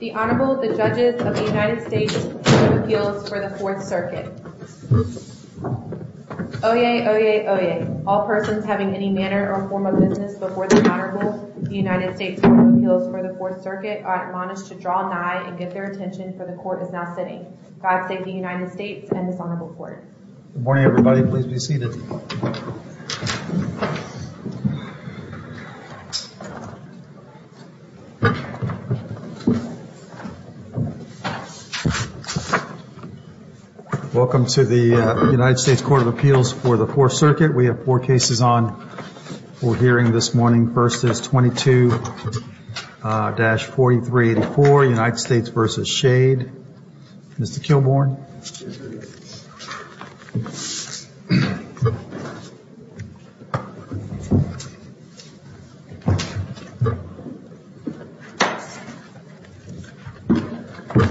The Honorable, the Judges of the United States Court of Appeals for the Fourth Circuit. Oyez, oyez, oyez. All persons having any manner or form of business before the Honorable, the United States Court of Appeals for the Fourth Circuit, are admonished to draw nigh and get their attention, for the Court is now sitting. God save the United States and this Honorable Court. Good morning, everybody. Please be seated. Welcome to the United States Court of Appeals for the Fourth Circuit. We have four cases on for hearing this morning. First is 22-4384, United States v. Shade. Mr. Kilbourn.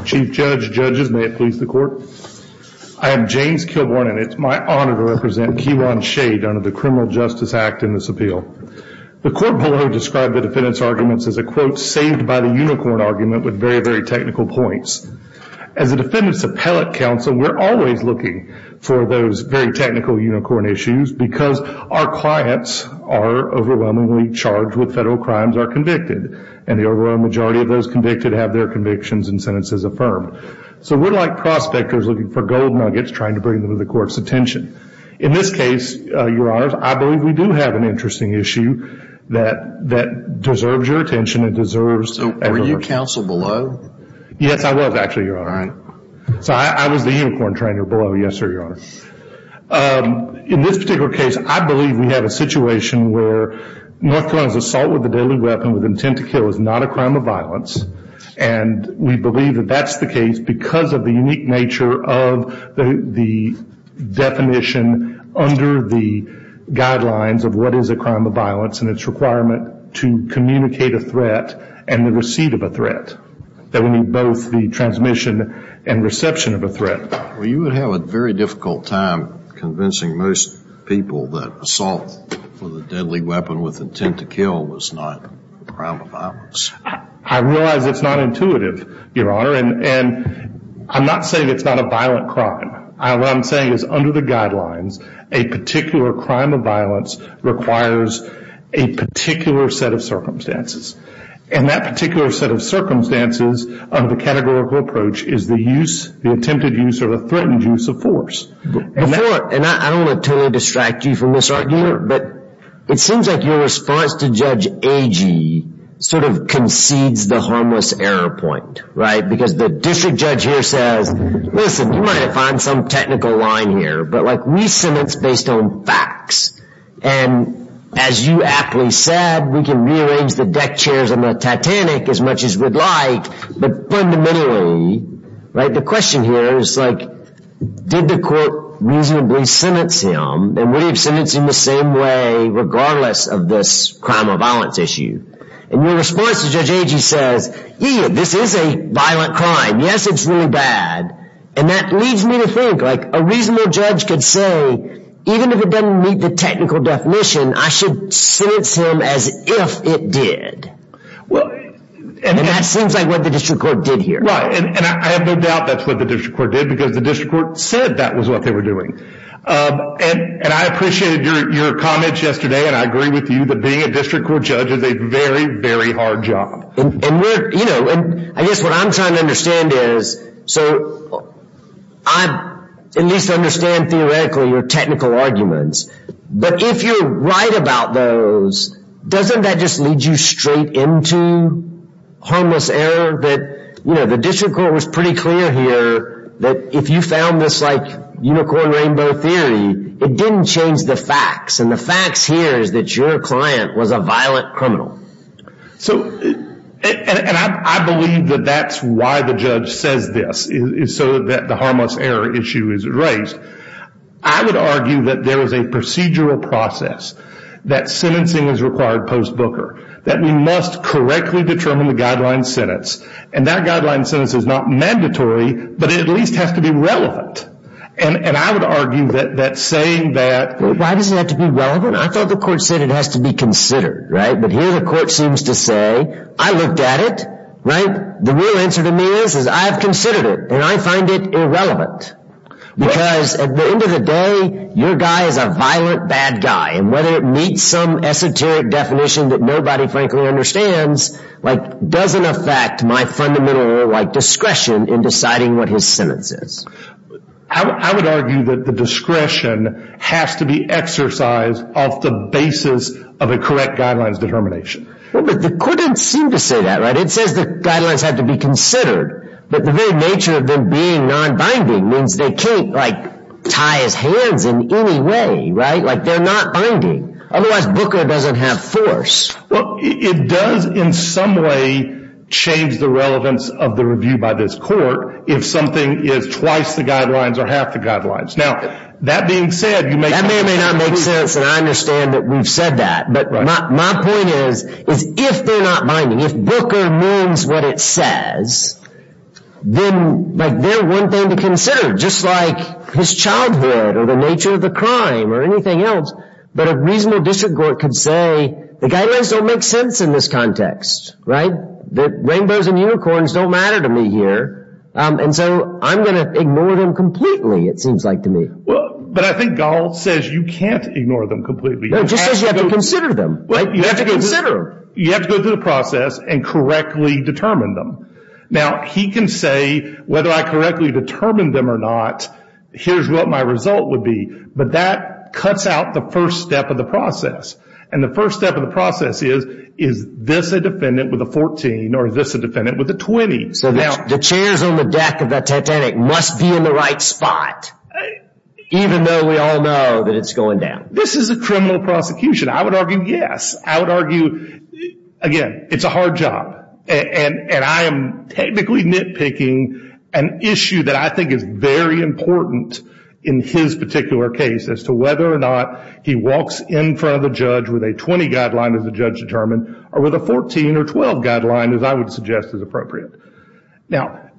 Chief Judge, Judges, may it please the Court. I am James Kilbourn and it is my honor to represent Kewan Shade under the Criminal Justice Act in this appeal. The Court below described the defendant's arguments as a quote, saved by the unicorn argument with very, very technical points. As a defendant's appellate counsel, we are always looking for those very technical unicorn issues because our clients are overwhelmingly charged with federal crimes are convicted and the overwhelming majority of those convicted have their convictions and sentences affirmed. So we are like prospectors looking for gold nuggets trying to bring them to the Court's attention. In this case, Your Honor, I believe we do have an interesting issue that deserves your attention. Were you counsel below? Yes, I was actually, Your Honor. So I was the unicorn trainer below. Yes, sir, Your Honor. In this particular case, I believe we have a situation where North Carolina's assault with a deadly weapon with intent to kill is not a crime of violence. And we believe that that's the case because of the unique nature of the definition under the guidelines of what is a crime of violence and its requirement to communicate a threat and the receipt of a threat, that we need both the transmission and reception of a threat. Well, you would have a very difficult time convincing most people that assault with a deadly weapon with intent to kill was not a crime of violence. I realize it's not intuitive, Your Honor, and I'm not saying it's not a violent crime. What I'm saying is under the guidelines, a particular crime of violence requires a particular set of circumstances. And that particular set of circumstances of the categorical approach is the use, the attempted use, or the threatened use of force. And I don't want to totally distract you from this argument, but it seems like your response to Judge Agee sort of concedes the harmless error point, right? Because the district judge here says, listen, you might have found some technical line here, but we sentence based on facts. And as you aptly said, we can rearrange the deck chairs on the Titanic as much as we'd like. But fundamentally, the question here is, did the court reasonably sentence him? And would he have sentenced him the same way regardless of this crime of violence issue? And your response to Judge Agee says, yeah, this is a violent crime. Yes, it's really bad. And that leads me to think a reasonable judge could say, even if it doesn't meet the technical definition, I should sentence him as if it did. And that seems like what the district court did here. Right, and I have no doubt that's what the district court did, because the district court said that was what they were doing. And I appreciated your comments yesterday, and I agree with you that being a district court judge is a very, very hard job. And I guess what I'm trying to understand is, so I at least understand theoretically your technical arguments. But if you're right about those, doesn't that just lead you straight into harmless error? The district court was pretty clear here that if you found this unicorn rainbow theory, it didn't change the facts. And the facts here is that your client was a violent criminal. And I believe that that's why the judge says this, so that the harmless error issue is raised. I would argue that there is a procedural process that sentencing is required post-Booker. That we must correctly determine the guideline sentence. And that guideline sentence is not mandatory, but it at least has to be relevant. And I would argue that saying that... Why does it have to be relevant? I thought the court said it has to be considered, right? But here the court seems to say, I looked at it, right? The real answer to me is, is I have considered it, and I find it irrelevant. Because at the end of the day, your guy is a violent bad guy. And whether it meets some esoteric definition that nobody frankly understands, doesn't affect my fundamental discretion in deciding what his sentence is. I would argue that the discretion has to be exercised off the basis of a correct guidelines determination. But the court didn't seem to say that, right? It says the guidelines have to be considered. But the very nature of them being non-binding means they can't tie his hands in any way, right? They're not binding. Otherwise, Booker doesn't have force. Well, it does in some way change the relevance of the review by this court, if something is twice the guidelines or half the guidelines. Now, that being said... That may or may not make sense, and I understand that we've said that. But my point is, if they're not binding, if Booker means what it says, then they're one thing to consider, just like his childhood or the nature of the crime or anything else. But a reasonable district court could say, the guidelines don't make sense in this context, right? Rainbows and unicorns don't matter to me here. And so I'm going to ignore them completely, it seems like to me. But I think Gall says you can't ignore them completely. No, it just says you have to consider them. You have to consider. You have to go through the process and correctly determine them. Now, he can say whether I correctly determined them or not, here's what my result would be. But that cuts out the first step of the process. And the first step of the process is, is this a defendant with a 14 or is this a defendant with a 20? So the chairs on the deck of the Titanic must be in the right spot, even though we all know that it's going down. This is a criminal prosecution. I would argue yes. I would argue, again, it's a hard job. And I am technically nitpicking an issue that I think is very important in his particular case as to whether or not he walks in front of a judge with a 20 guideline as the judge determined or with a 14 or 12 guideline as I would suggest is appropriate. Now,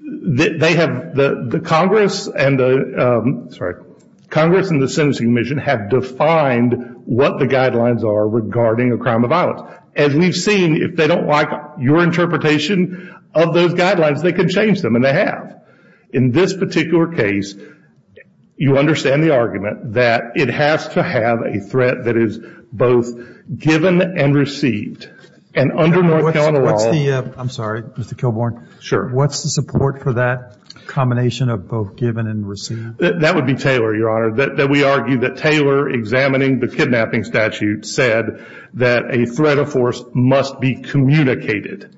they have, the Congress and the, sorry, Congress and the Sentencing Commission have defined what the guidelines are regarding a crime of violence. As we've seen, if they don't like your interpretation of those guidelines, they can change them, and they have. In this particular case, you understand the argument that it has to have a threat that is both given and received. And under North Carolina law. I'm sorry, Mr. Kilbourn. Sure. What's the support for that combination of both given and received? That would be Taylor, Your Honor. We argue that Taylor, examining the kidnapping statute, said that a threat of force must be communicated.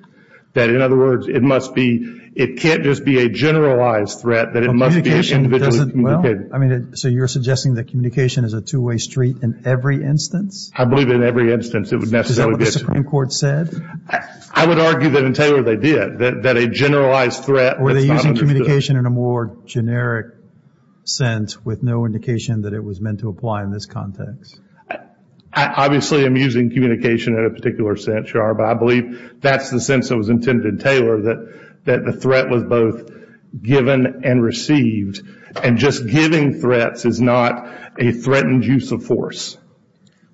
That, in other words, it must be, it can't just be a generalized threat, that it must be individually communicated. So you're suggesting that communication is a two-way street in every instance? I believe in every instance it would necessarily be. Is that what the Supreme Court said? I would argue that in Taylor they did, that a generalized threat. Were they using communication in a more generic sense, with no indication that it was meant to apply in this context? Obviously I'm using communication in a particular sense, Your Honor, but I believe that's the sense that was intended in Taylor, that the threat was both given and received, and just giving threats is not a threatened use of force.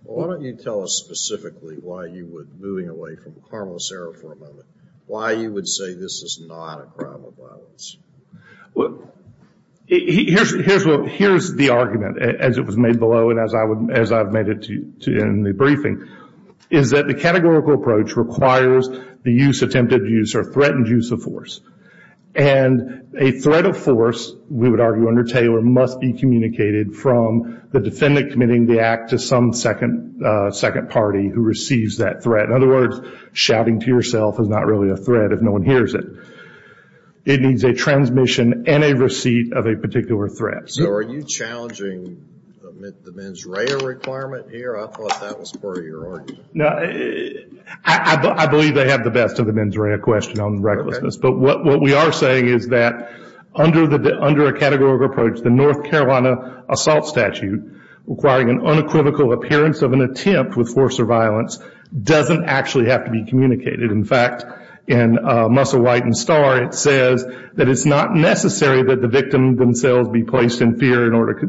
Well, why don't you tell us specifically why you would, moving away from Carmel Serra for a moment, why you would say this is not a crime of violence? Well, here's the argument, as it was made below and as I've made it in the briefing, is that the categorical approach requires the use, attempted use, or threatened use of force. And a threat of force, we would argue under Taylor, must be communicated from the defendant committing the act to some second party who receives that threat. In other words, shouting to yourself is not really a threat if no one hears it. It needs a transmission and a receipt of a particular threat. So are you challenging the mens rea requirement here? I thought that was part of your argument. I believe they have the best of the mens rea question on recklessness. But what we are saying is that under a categorical approach, the North Carolina assault statute requiring an unequivocal appearance of an attempt with force or violence doesn't actually have to be communicated. In fact, in Muscle, White, and Star, it says that it's not necessary that the victim themselves be placed in fear in order to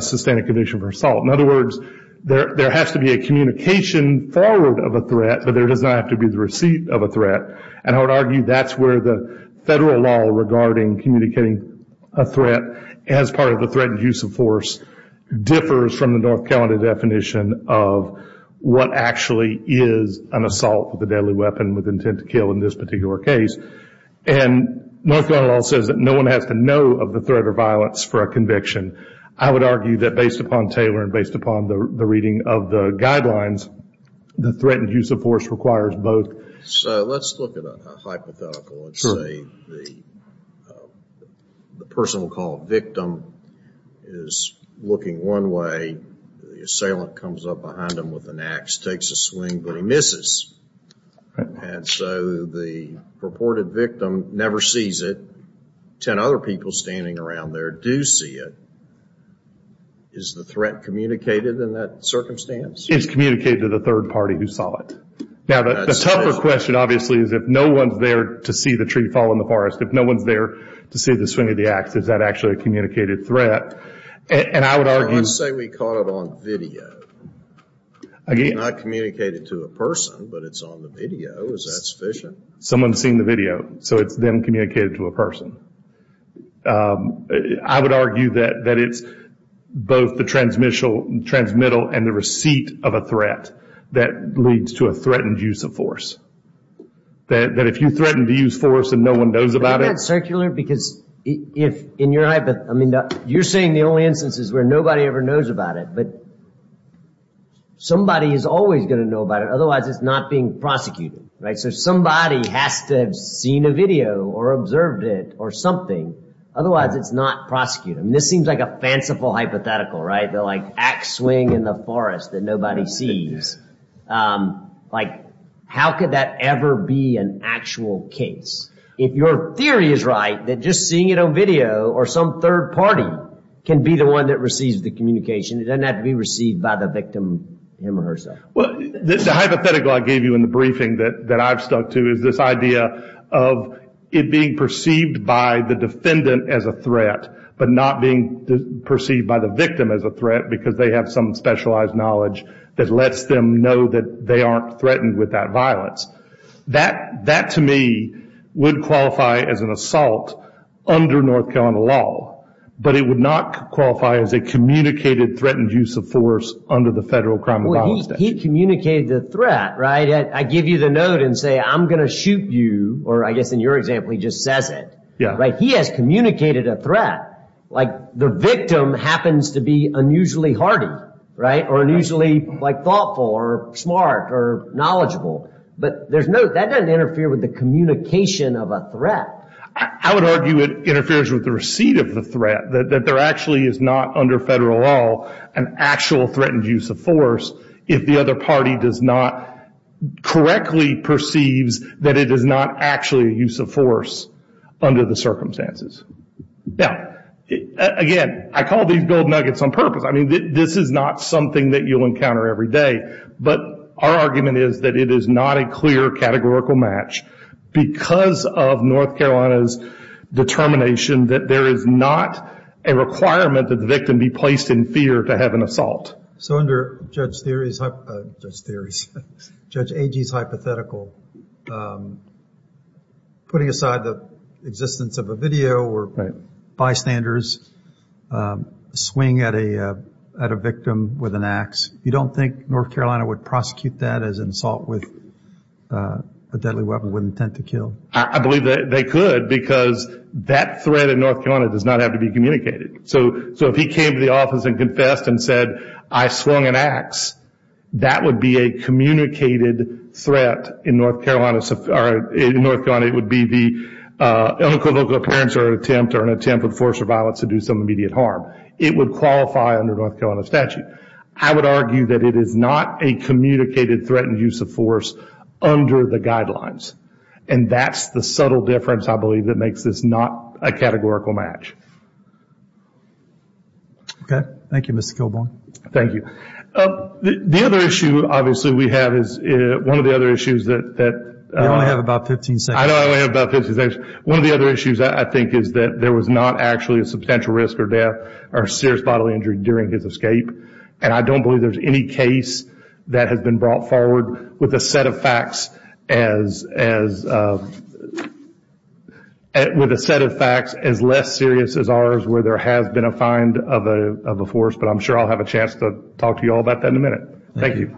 sustain a condition for assault. In other words, there has to be a communication forward of a threat, but there does not have to be the receipt of a threat. And I would argue that's where the federal law regarding communicating a threat as part of a threatened use of force differs from the North Carolina definition of what actually is an assault with a deadly weapon with intent to kill in this particular case. And North Carolina law says that no one has to know of the threat or violence for a conviction. I would argue that based upon Taylor and based upon the reading of the guidelines, the threatened use of force requires both. So let's look at a hypothetical. Let's say the personal call victim is looking one way. The assailant comes up behind him with an ax, takes a swing, but he misses. And so the purported victim never sees it. Ten other people standing around there do see it. Is the threat communicated in that circumstance? It's communicated to the third party who saw it. Now the tougher question, obviously, is if no one's there to see the tree fall in the forest, if no one's there to see the swing of the ax, is that actually a communicated threat? Let's say we caught it on video. It's not communicated to a person, but it's on the video. Is that sufficient? Someone's seen the video, so it's then communicated to a person. I would argue that it's both the transmittal and the receipt of a threat that leads to a threatened use of force. That if you threaten to use force and no one knows about it. Isn't that circular? Because you're saying the only instance is where nobody ever knows about it, but somebody is always going to know about it. Otherwise, it's not being prosecuted. So somebody has to have seen a video or observed it or something. Otherwise, it's not prosecuted. This seems like a fanciful hypothetical, right? The ax swing in the forest that nobody sees. How could that ever be an actual case? If your theory is right that just seeing it on video or some third party can be the one that receives the communication, it doesn't have to be received by the victim him or herself. The hypothetical I gave you in the briefing that I've stuck to is this idea of it being perceived by the defendant as a threat but not being perceived by the victim as a threat because they have some specialized knowledge that lets them know that they aren't threatened with that violence. That to me would qualify as an assault under North Carolina law, but it would not qualify as a communicated threatened use of force under the Federal Crime and Violence Statute. He communicated the threat, right? I give you the note and say I'm going to shoot you, or I guess in your example he just says it. He has communicated a threat. The victim happens to be unusually hardy or unusually thoughtful or smart or knowledgeable, but that doesn't interfere with the communication of a threat. I would argue it interferes with the receipt of the threat, that there actually is not under Federal law an actual threatened use of force if the other party does not correctly perceives that it is not actually a use of force under the circumstances. Again, I call these gold nuggets on purpose. This is not something that you'll encounter every day, but our argument is that it is not a clear categorical match because of North Carolina's determination that there is not a requirement that the victim be placed in fear to have an assault. So under Judge Agee's hypothetical, putting aside the existence of a video where bystanders swing at a victim with an axe, you don't think North Carolina would prosecute that as an assault with a deadly weapon with intent to kill? I believe they could because that threat in North Carolina does not have to be communicated. So if he came to the office and confessed and said, I swung an axe, that would be a communicated threat in North Carolina. It would be the ill-inclined local appearance or an attempt with force or violence to do some immediate harm. It would qualify under North Carolina statute. I would argue that it is not a communicated threatened use of force under the guidelines, and that's the subtle difference, I believe, that makes this not a categorical match. Okay. Thank you, Mr. Kilbourne. Thank you. The other issue, obviously, we have is one of the other issues that... You only have about 15 seconds. I know I only have about 15 seconds. One of the other issues I think is that there was not actually a substantial risk or death or serious bodily injury during his escape, and I don't believe there's any case that has been brought forward with a set of facts as... with a set of facts as less serious as ours where there has been a find of a force, but I'm sure I'll have a chance to talk to you all about that in a minute. Thank you.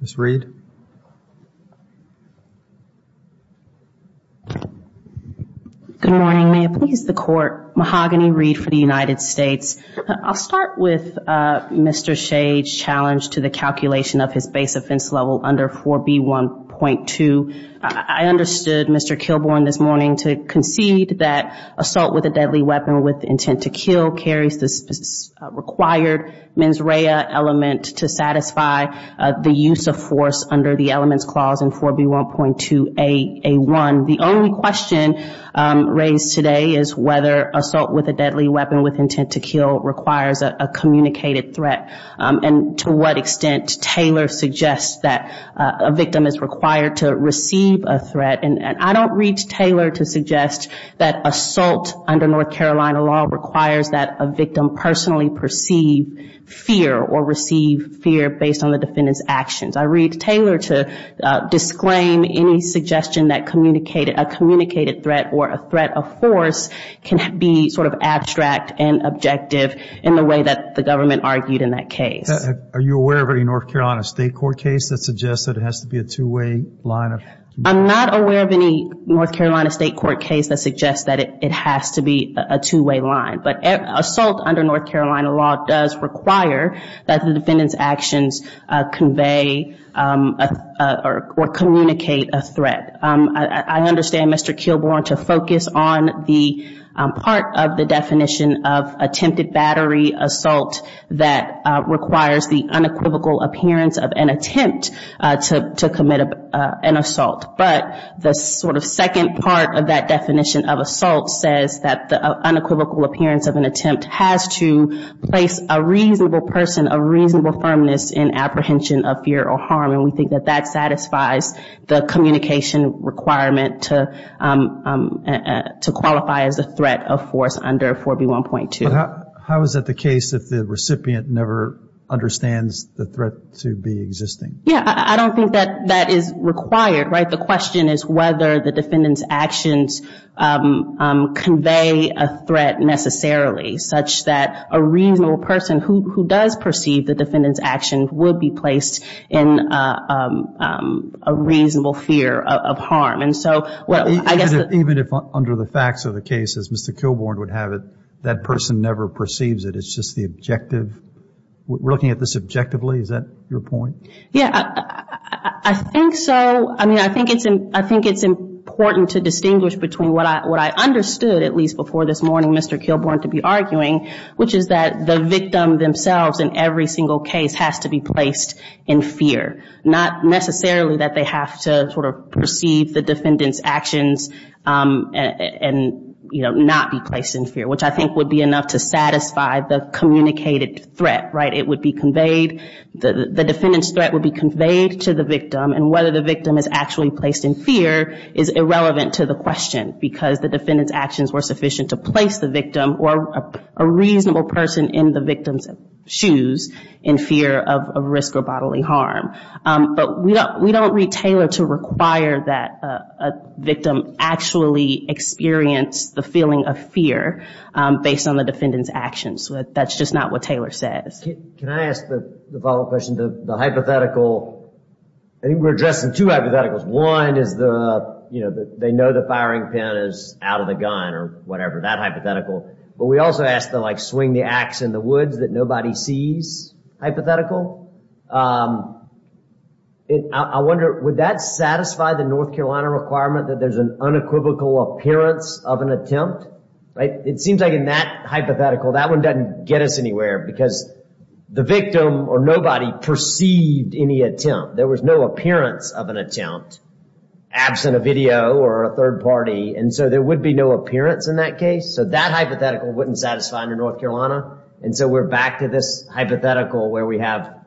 Ms. Reed. Good morning. May it please the Court, Mahogany Reed for the United States. I'll start with Mr. Shade's challenge to the calculation of his base offense level under 4B1.2. I understood Mr. Kilbourne this morning to concede that assault with a deadly weapon with intent to kill carries the required mens rea element to satisfy the use of force under the elements clause in 4B1.2A1. The only question raised today is whether assault with a deadly weapon with intent to kill requires a communicated threat and to what extent Taylor suggests that a victim is required to receive a threat. And I don't read Taylor to suggest that assault under North Carolina law requires that a victim personally perceive fear or receive fear based on the defendant's actions. I read Taylor to disclaim any suggestion that a communicated threat or a threat of force can be sort of abstract and objective in the way that the government argued in that case. Are you aware of any North Carolina state court case that suggests that it has to be a two-way line? I'm not aware of any North Carolina state court case that suggests that it has to be a two-way line. But assault under North Carolina law does require that the defendant's actions convey or communicate a threat. I understand Mr. Kilbourne to focus on the part of the definition of attempted battery assault that requires the unequivocal appearance of an attempt to commit an assault. But the sort of second part of that definition of assault says that the unequivocal appearance of an attempt has to place a reasonable person of reasonable firmness in apprehension of fear or harm. And we think that that satisfies the communication requirement to qualify as a threat of force under 4B1.2. How is that the case if the recipient never understands the threat to be existing? Yeah, I don't think that that is required, right? I think the question is whether the defendant's actions convey a threat necessarily such that a reasonable person who does perceive the defendant's actions would be placed in a reasonable fear of harm. And so, well, I guess the- Even if under the facts of the case, as Mr. Kilbourne would have it, that person never perceives it. It's just the objective. We're looking at this objectively. Is that your point? Yeah, I think so. I mean, I think it's important to distinguish between what I understood, at least before this morning, Mr. Kilbourne to be arguing, which is that the victim themselves in every single case has to be placed in fear, not necessarily that they have to sort of perceive the defendant's actions and, you know, not be placed in fear, which I think would be enough to satisfy the communicated threat, right? It would be conveyed, the defendant's threat would be conveyed to the victim, and whether the victim is actually placed in fear is irrelevant to the question because the defendant's actions were sufficient to place the victim or a reasonable person in the victim's shoes in fear of risk or bodily harm. But we don't read Taylor to require that a victim actually experience the feeling of fear based on the defendant's actions. That's just not what Taylor says. Can I ask the follow-up question? The hypothetical, I think we're addressing two hypotheticals. One is the, you know, they know the firing pin is out of the gun or whatever, that hypothetical. But we also asked to, like, swing the axe in the woods that nobody sees hypothetical. I wonder, would that satisfy the North Carolina requirement that there's an unequivocal appearance of an attempt, right? It seems like in that hypothetical, that one doesn't get us anywhere because the victim or nobody perceived any attempt. There was no appearance of an attempt absent a video or a third party, and so there would be no appearance in that case. So that hypothetical wouldn't satisfy under North Carolina. And so we're back to this hypothetical where we have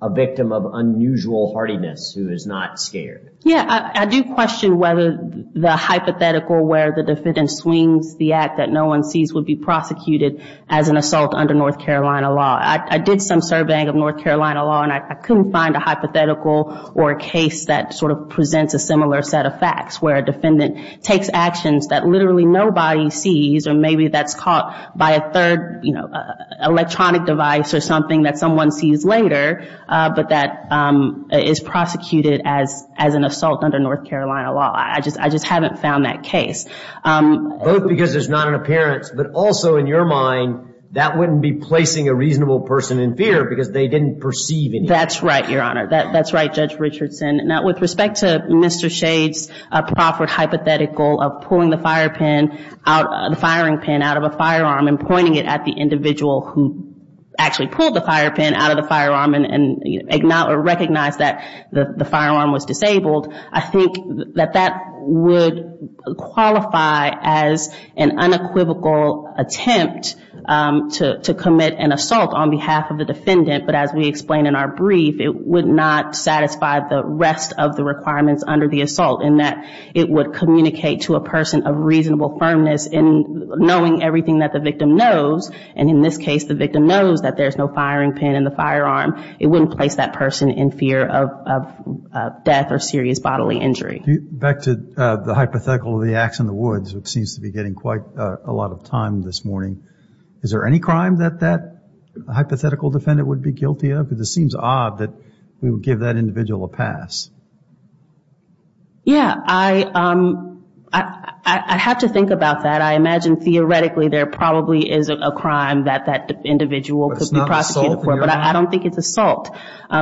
a victim of unusual hardiness who is not scared. Yeah, I do question whether the hypothetical where the defendant swings the axe that no one sees would be prosecuted as an assault under North Carolina law. I did some surveying of North Carolina law, and I couldn't find a hypothetical or a case that sort of presents a similar set of facts, where a defendant takes actions that literally nobody sees or maybe that's caught by a third, you know, I just haven't found that case. Both because there's not an appearance, but also in your mind, that wouldn't be placing a reasonable person in fear because they didn't perceive anything. That's right, Your Honor. That's right, Judge Richardson. Now, with respect to Mr. Shade's proffered hypothetical of pulling the firing pin out of a firearm and pointing it at the individual who actually pulled the fire pin out of the firearm and recognized that the firearm was disabled, I think that that would qualify as an unequivocal attempt to commit an assault on behalf of the defendant. But as we explained in our brief, it would not satisfy the rest of the requirements under the assault, in that it would communicate to a person of reasonable firmness in knowing everything that the victim knows. And in this case, the victim knows that there's no firing pin in the firearm. It wouldn't place that person in fear of death or serious bodily injury. Back to the hypothetical of the ax in the woods, which seems to be getting quite a lot of time this morning. Is there any crime that that hypothetical defendant would be guilty of? Because it seems odd that we would give that individual a pass. Yeah. I have to think about that. I imagine theoretically there probably is a crime that that individual could be prosecuted for, but I don't think it's assault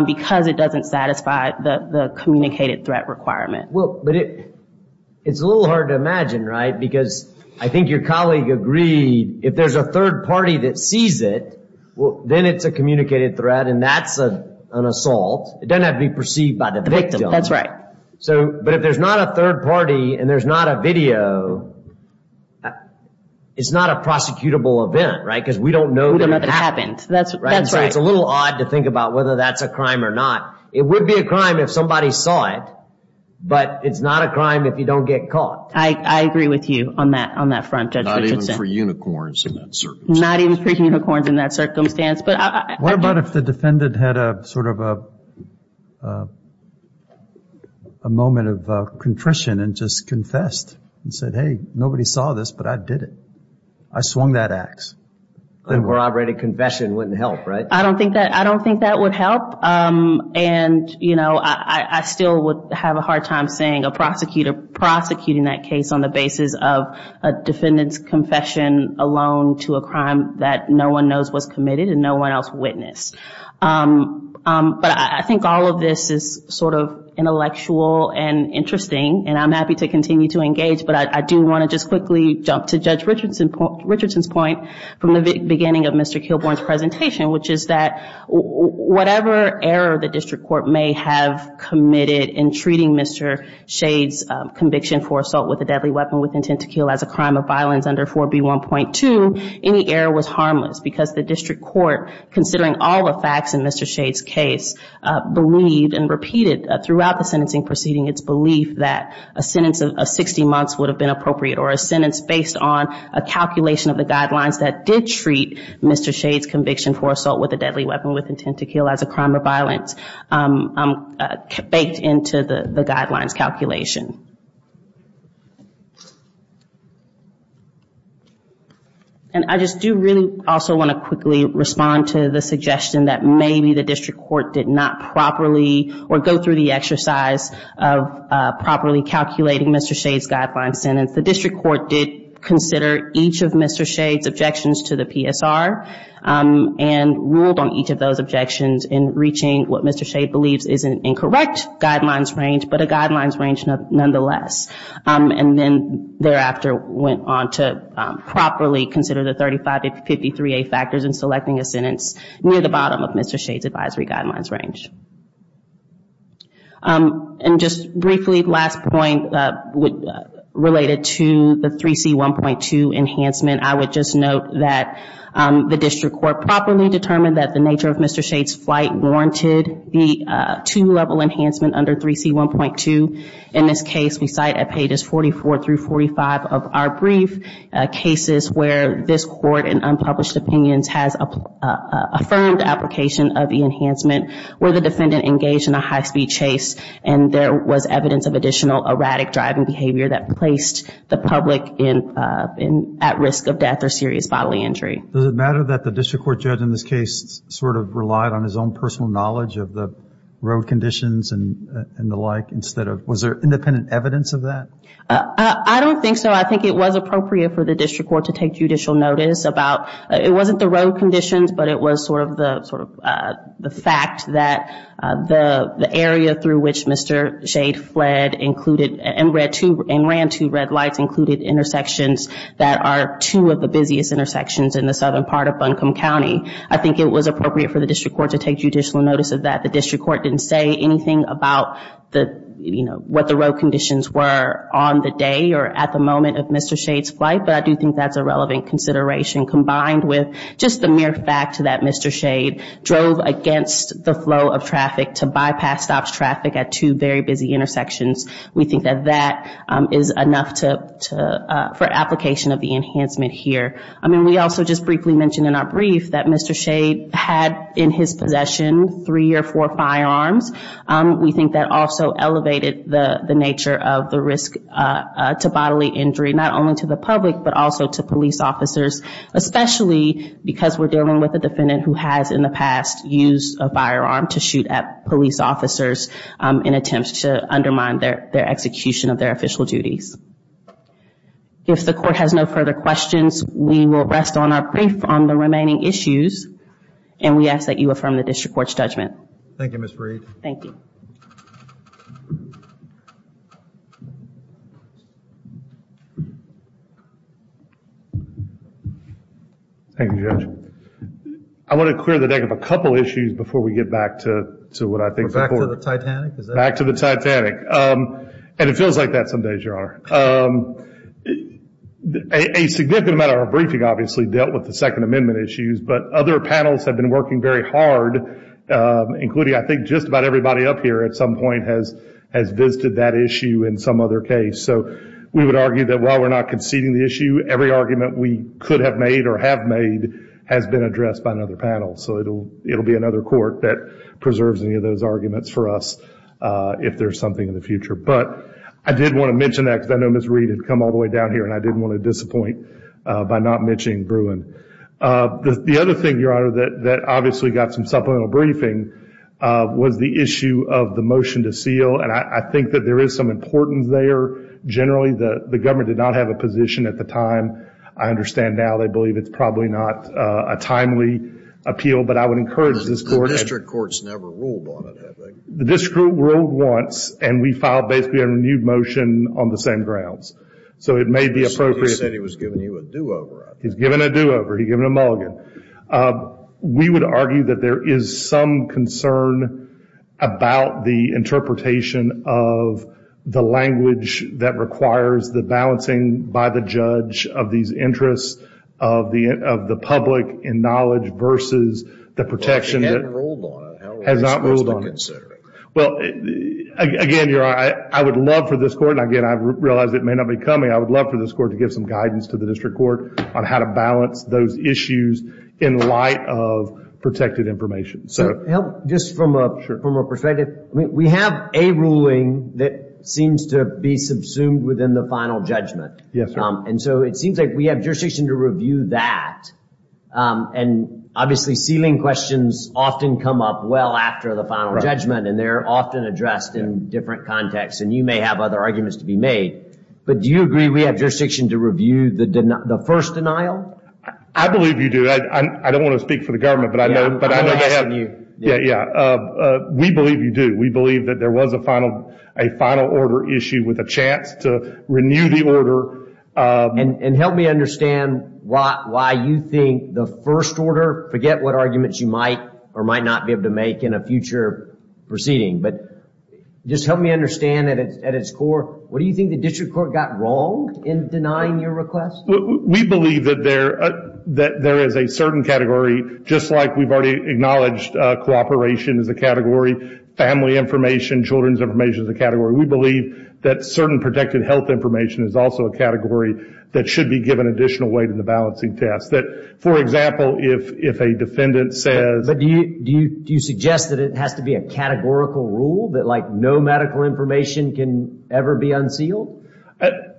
because it doesn't satisfy the communicated threat requirement. Well, but it's a little hard to imagine, right? Because I think your colleague agreed, if there's a third party that sees it, then it's a communicated threat and that's an assault. It doesn't have to be perceived by the victim. That's right. But if there's not a third party and there's not a video, it's not a prosecutable event, right? Because we don't know that it happened. It's a little odd to think about whether that's a crime or not. It would be a crime if somebody saw it, but it's not a crime if you don't get caught. I agree with you on that front, Judge Richardson. Not even for unicorns in that circumstance. What about if the defendant had a moment of contrition and just confessed and said, hey, nobody saw this, but I did it. I swung that ax. Corroborated confession wouldn't help, right? I don't think that would help. I still would have a hard time saying a prosecutor prosecuting that case on the basis of a defendant's confession alone to a crime that no one knows was committed and no one else witnessed. But I think all of this is sort of intellectual and interesting, and I'm happy to continue to engage, but I do want to just quickly jump to Judge Richardson's point from the beginning of Mr. Kilbourn's presentation, which is that whatever error the district court may have committed in treating Mr. Shade's conviction for assault with a deadly weapon with intent to kill as a crime of violence under 4B1.2, any error was harmless because the district court, considering all the facts in Mr. Shade's case, believed and repeated throughout the sentencing proceeding its belief that a sentence of 60 months would have been appropriate or a sentence based on a calculation of the guidelines that did treat Mr. Shade's conviction for assault with a deadly weapon with intent to kill as a crime of violence baked into the guidelines calculation. And I just do really also want to quickly respond to the suggestion that maybe the district court did not properly or go through the exercise of properly calculating Mr. Shade's guideline sentence. The district court did consider each of Mr. Shade's objections to the PSR, and ruled on each of those objections in reaching what Mr. Shade believes is an incorrect guidelines range, but a guidelines range nonetheless. And then thereafter went on to properly consider the 3553A factors in selecting a sentence near the bottom of Mr. Shade's advisory guidelines range. And just briefly, last point related to the 3C1.2 enhancement. I would just note that the district court properly determined that the nature of Mr. Shade's flight warranted the two-level enhancement under 3C1.2. In this case, we cite at pages 44 through 45 of our brief cases where this court in unpublished opinions has affirmed application of the enhancement where the defendant engaged in a high-speed chase and there was evidence of additional erratic driving behavior that placed the public at risk of death or serious bodily injury. Does it matter that the district court judge in this case sort of relied on his own personal knowledge of the road conditions and the like instead of, was there independent evidence of that? I don't think so. I think it was appropriate for the district court to take judicial notice about, it wasn't the road conditions, but it was sort of the fact that the area through which Mr. Shade fled included, and ran two red lights, included intersections that are two of the busiest intersections in the southern part of Buncombe County. I think it was appropriate for the district court to take judicial notice of that. The district court didn't say anything about the, you know, what the road conditions were on the day or at the moment of Mr. Shade's flight, but I do think that's a relevant consideration combined with just the mere fact that Mr. Shade drove against the flow of traffic to bypass traffic at two very busy intersections. We think that that is enough for application of the enhancement here. I mean, we also just briefly mentioned in our brief that Mr. Shade had in his possession three or four firearms. We think that also elevated the nature of the risk to bodily injury, not only to the public, but also to police officers, especially because we're dealing with a defendant who has in the past used a firearm to shoot at police officers in attempts to undermine their execution of their official duties. If the court has no further questions, we will rest on our brief on the remaining issues, and we ask that you affirm the district court's judgment. Thank you, Ms. Reed. Thank you. Thank you, Judge. I want to clear the deck of a couple of issues before we get back to what I think the court... Back to the Titanic? Back to the Titanic. And it feels like that some days, Your Honor. A significant amount of our briefing obviously dealt with the Second Amendment issues, but other panels have been working very hard, including I think just about everybody up here at some point has visited that issue in some other case. So we would argue that while we're not conceding the issue, every argument we could have made or have made has been addressed by another panel. So it will be another court that preserves any of those arguments for us if there's something in the future. But I did want to mention that because I know Ms. Reed had come all the way down here, and I didn't want to disappoint by not mentioning Bruin. The other thing, Your Honor, that obviously got some supplemental briefing was the issue of the motion to seal, and I think that there is some importance there. Generally, the government did not have a position at the time. I understand now they believe it's probably not a timely appeal, but I would encourage this court... The district court's never ruled on it, I think. The district court ruled once, and we filed basically a renewed motion on the same grounds. So it may be appropriate... You said he was giving you a do-over. He's giving a do-over. He's giving a mulligan. We would argue that there is some concern about the interpretation of the language that requires the balancing by the judge of these interests of the public and knowledge versus the protection... Again, Your Honor, I would love for this court, and again, I realize it may not be coming, I would love for this court to give some guidance to the district court on how to balance those issues in light of protected information. We have a ruling that seems to be subsumed within the final judgment. It seems like we have jurisdiction to review that. Obviously, ceiling questions often come up well after the final judgment, and they're often addressed in different contexts, and you may have other arguments to be made. Do you agree we have jurisdiction to review the first denial? I believe you do. I don't want to speak for the government, but I know they have... We believe you do. We believe that there was a final order issue with a chance to renew the order. Help me understand why you think the first order, forget what arguments you might or might not be able to make in a future proceeding, but just help me understand at its core, what do you think the district court got wrong in denying your request? We believe that there is a certain category, just like we've already acknowledged cooperation is a category, family information, children's information is a category. We believe that certain protected health information is also a category that should be given additional weight in the balancing test. For example, if a defendant says... Do you suggest that it has to be a categorical rule, that no medical information can ever be unsealed?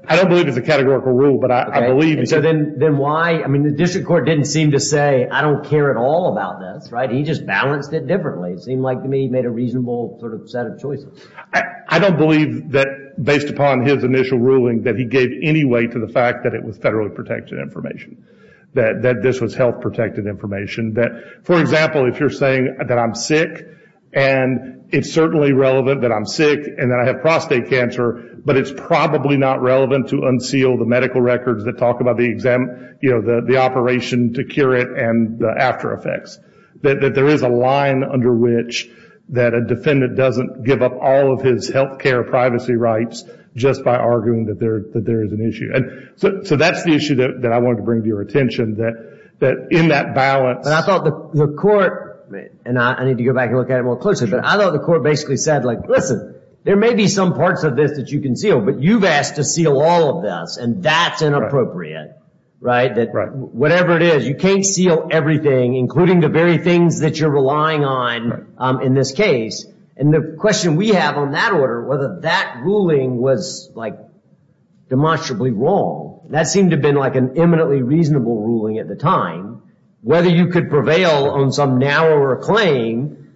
I don't believe it's a categorical rule, but I believe... Then why? The district court didn't seem to say, I don't care at all about this. He just balanced it differently. It seemed like to me he made a reasonable set of choices. I don't believe, based upon his initial ruling, that he gave any weight to the fact that it was federally protected information, that this was health protected information. For example, if you're saying that I'm sick, and it's certainly relevant that I'm sick and that I have prostate cancer, but it's probably not relevant to unseal the medical records that talk about the operation to cure it and the after effects. That there is a line under which a defendant doesn't give up all of his health care privacy rights just by arguing that there is an issue. That's the issue that I wanted to bring to your attention, that in that balance... I thought the court... I need to go back and look at it more closely. I thought the court basically said, listen, there may be some parts of this that you can seal, but you've asked to seal all of this, and that's inappropriate. Whatever it is, you can't seal everything, including the very things that you're relying on in this case. The question we have on that order, whether that ruling was demonstrably wrong. That seemed to have been an eminently reasonable ruling at the time. Whether you could prevail on some narrower claim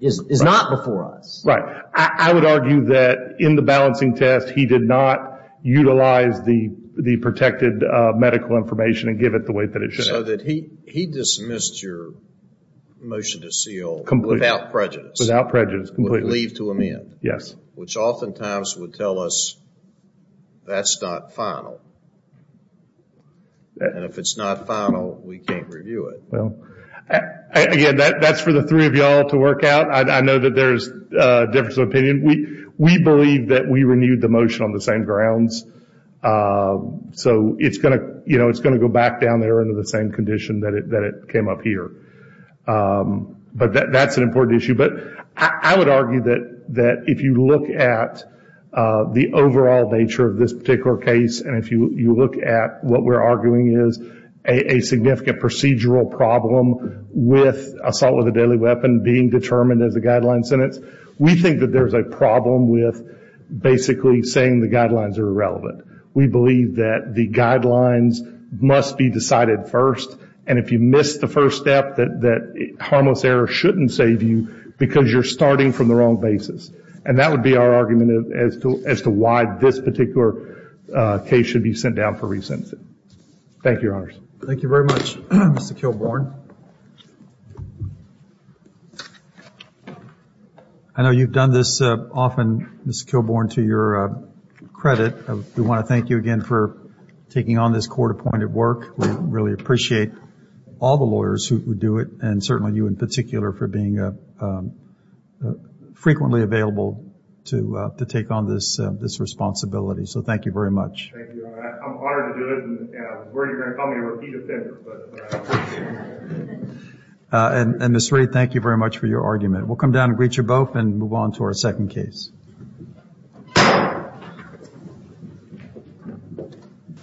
is not before us. Right. I would argue that in the balancing test, he did not utilize the protected medical information and give it the way that it should have. He dismissed your motion to seal without prejudice. Which oftentimes would tell us that's not final. If it's not final, we can't review it. Again, that's for the three of you all to work out. I know that there's a difference of opinion. We believe that we renewed the motion on the same grounds. It's going to go back down there under the same condition that it came up here. That's an important issue. I would argue that if you look at the overall nature of this particular case, and if you look at what we're arguing is a significant procedural problem with assault with a deadly weapon being determined as a guideline sentence, we think that there's a problem with basically saying the guidelines are irrelevant. We believe that the guidelines must be decided first, and if you miss the first step, that harmless error shouldn't save you because you're starting from the wrong basis. And that would be our argument as to why this particular case should be sent down for re-sentencing. Thank you, Your Honors. Thank you very much, Mr. Kilbourn. I know you've done this often, Mr. Kilbourn, to your credit. We want to thank you again for taking on this court-appointed work. We really appreciate all the lawyers who do it, and certainly you in particular for being frequently available to take on this responsibility. So thank you very much. And Ms. Rae, thank you very much for your argument.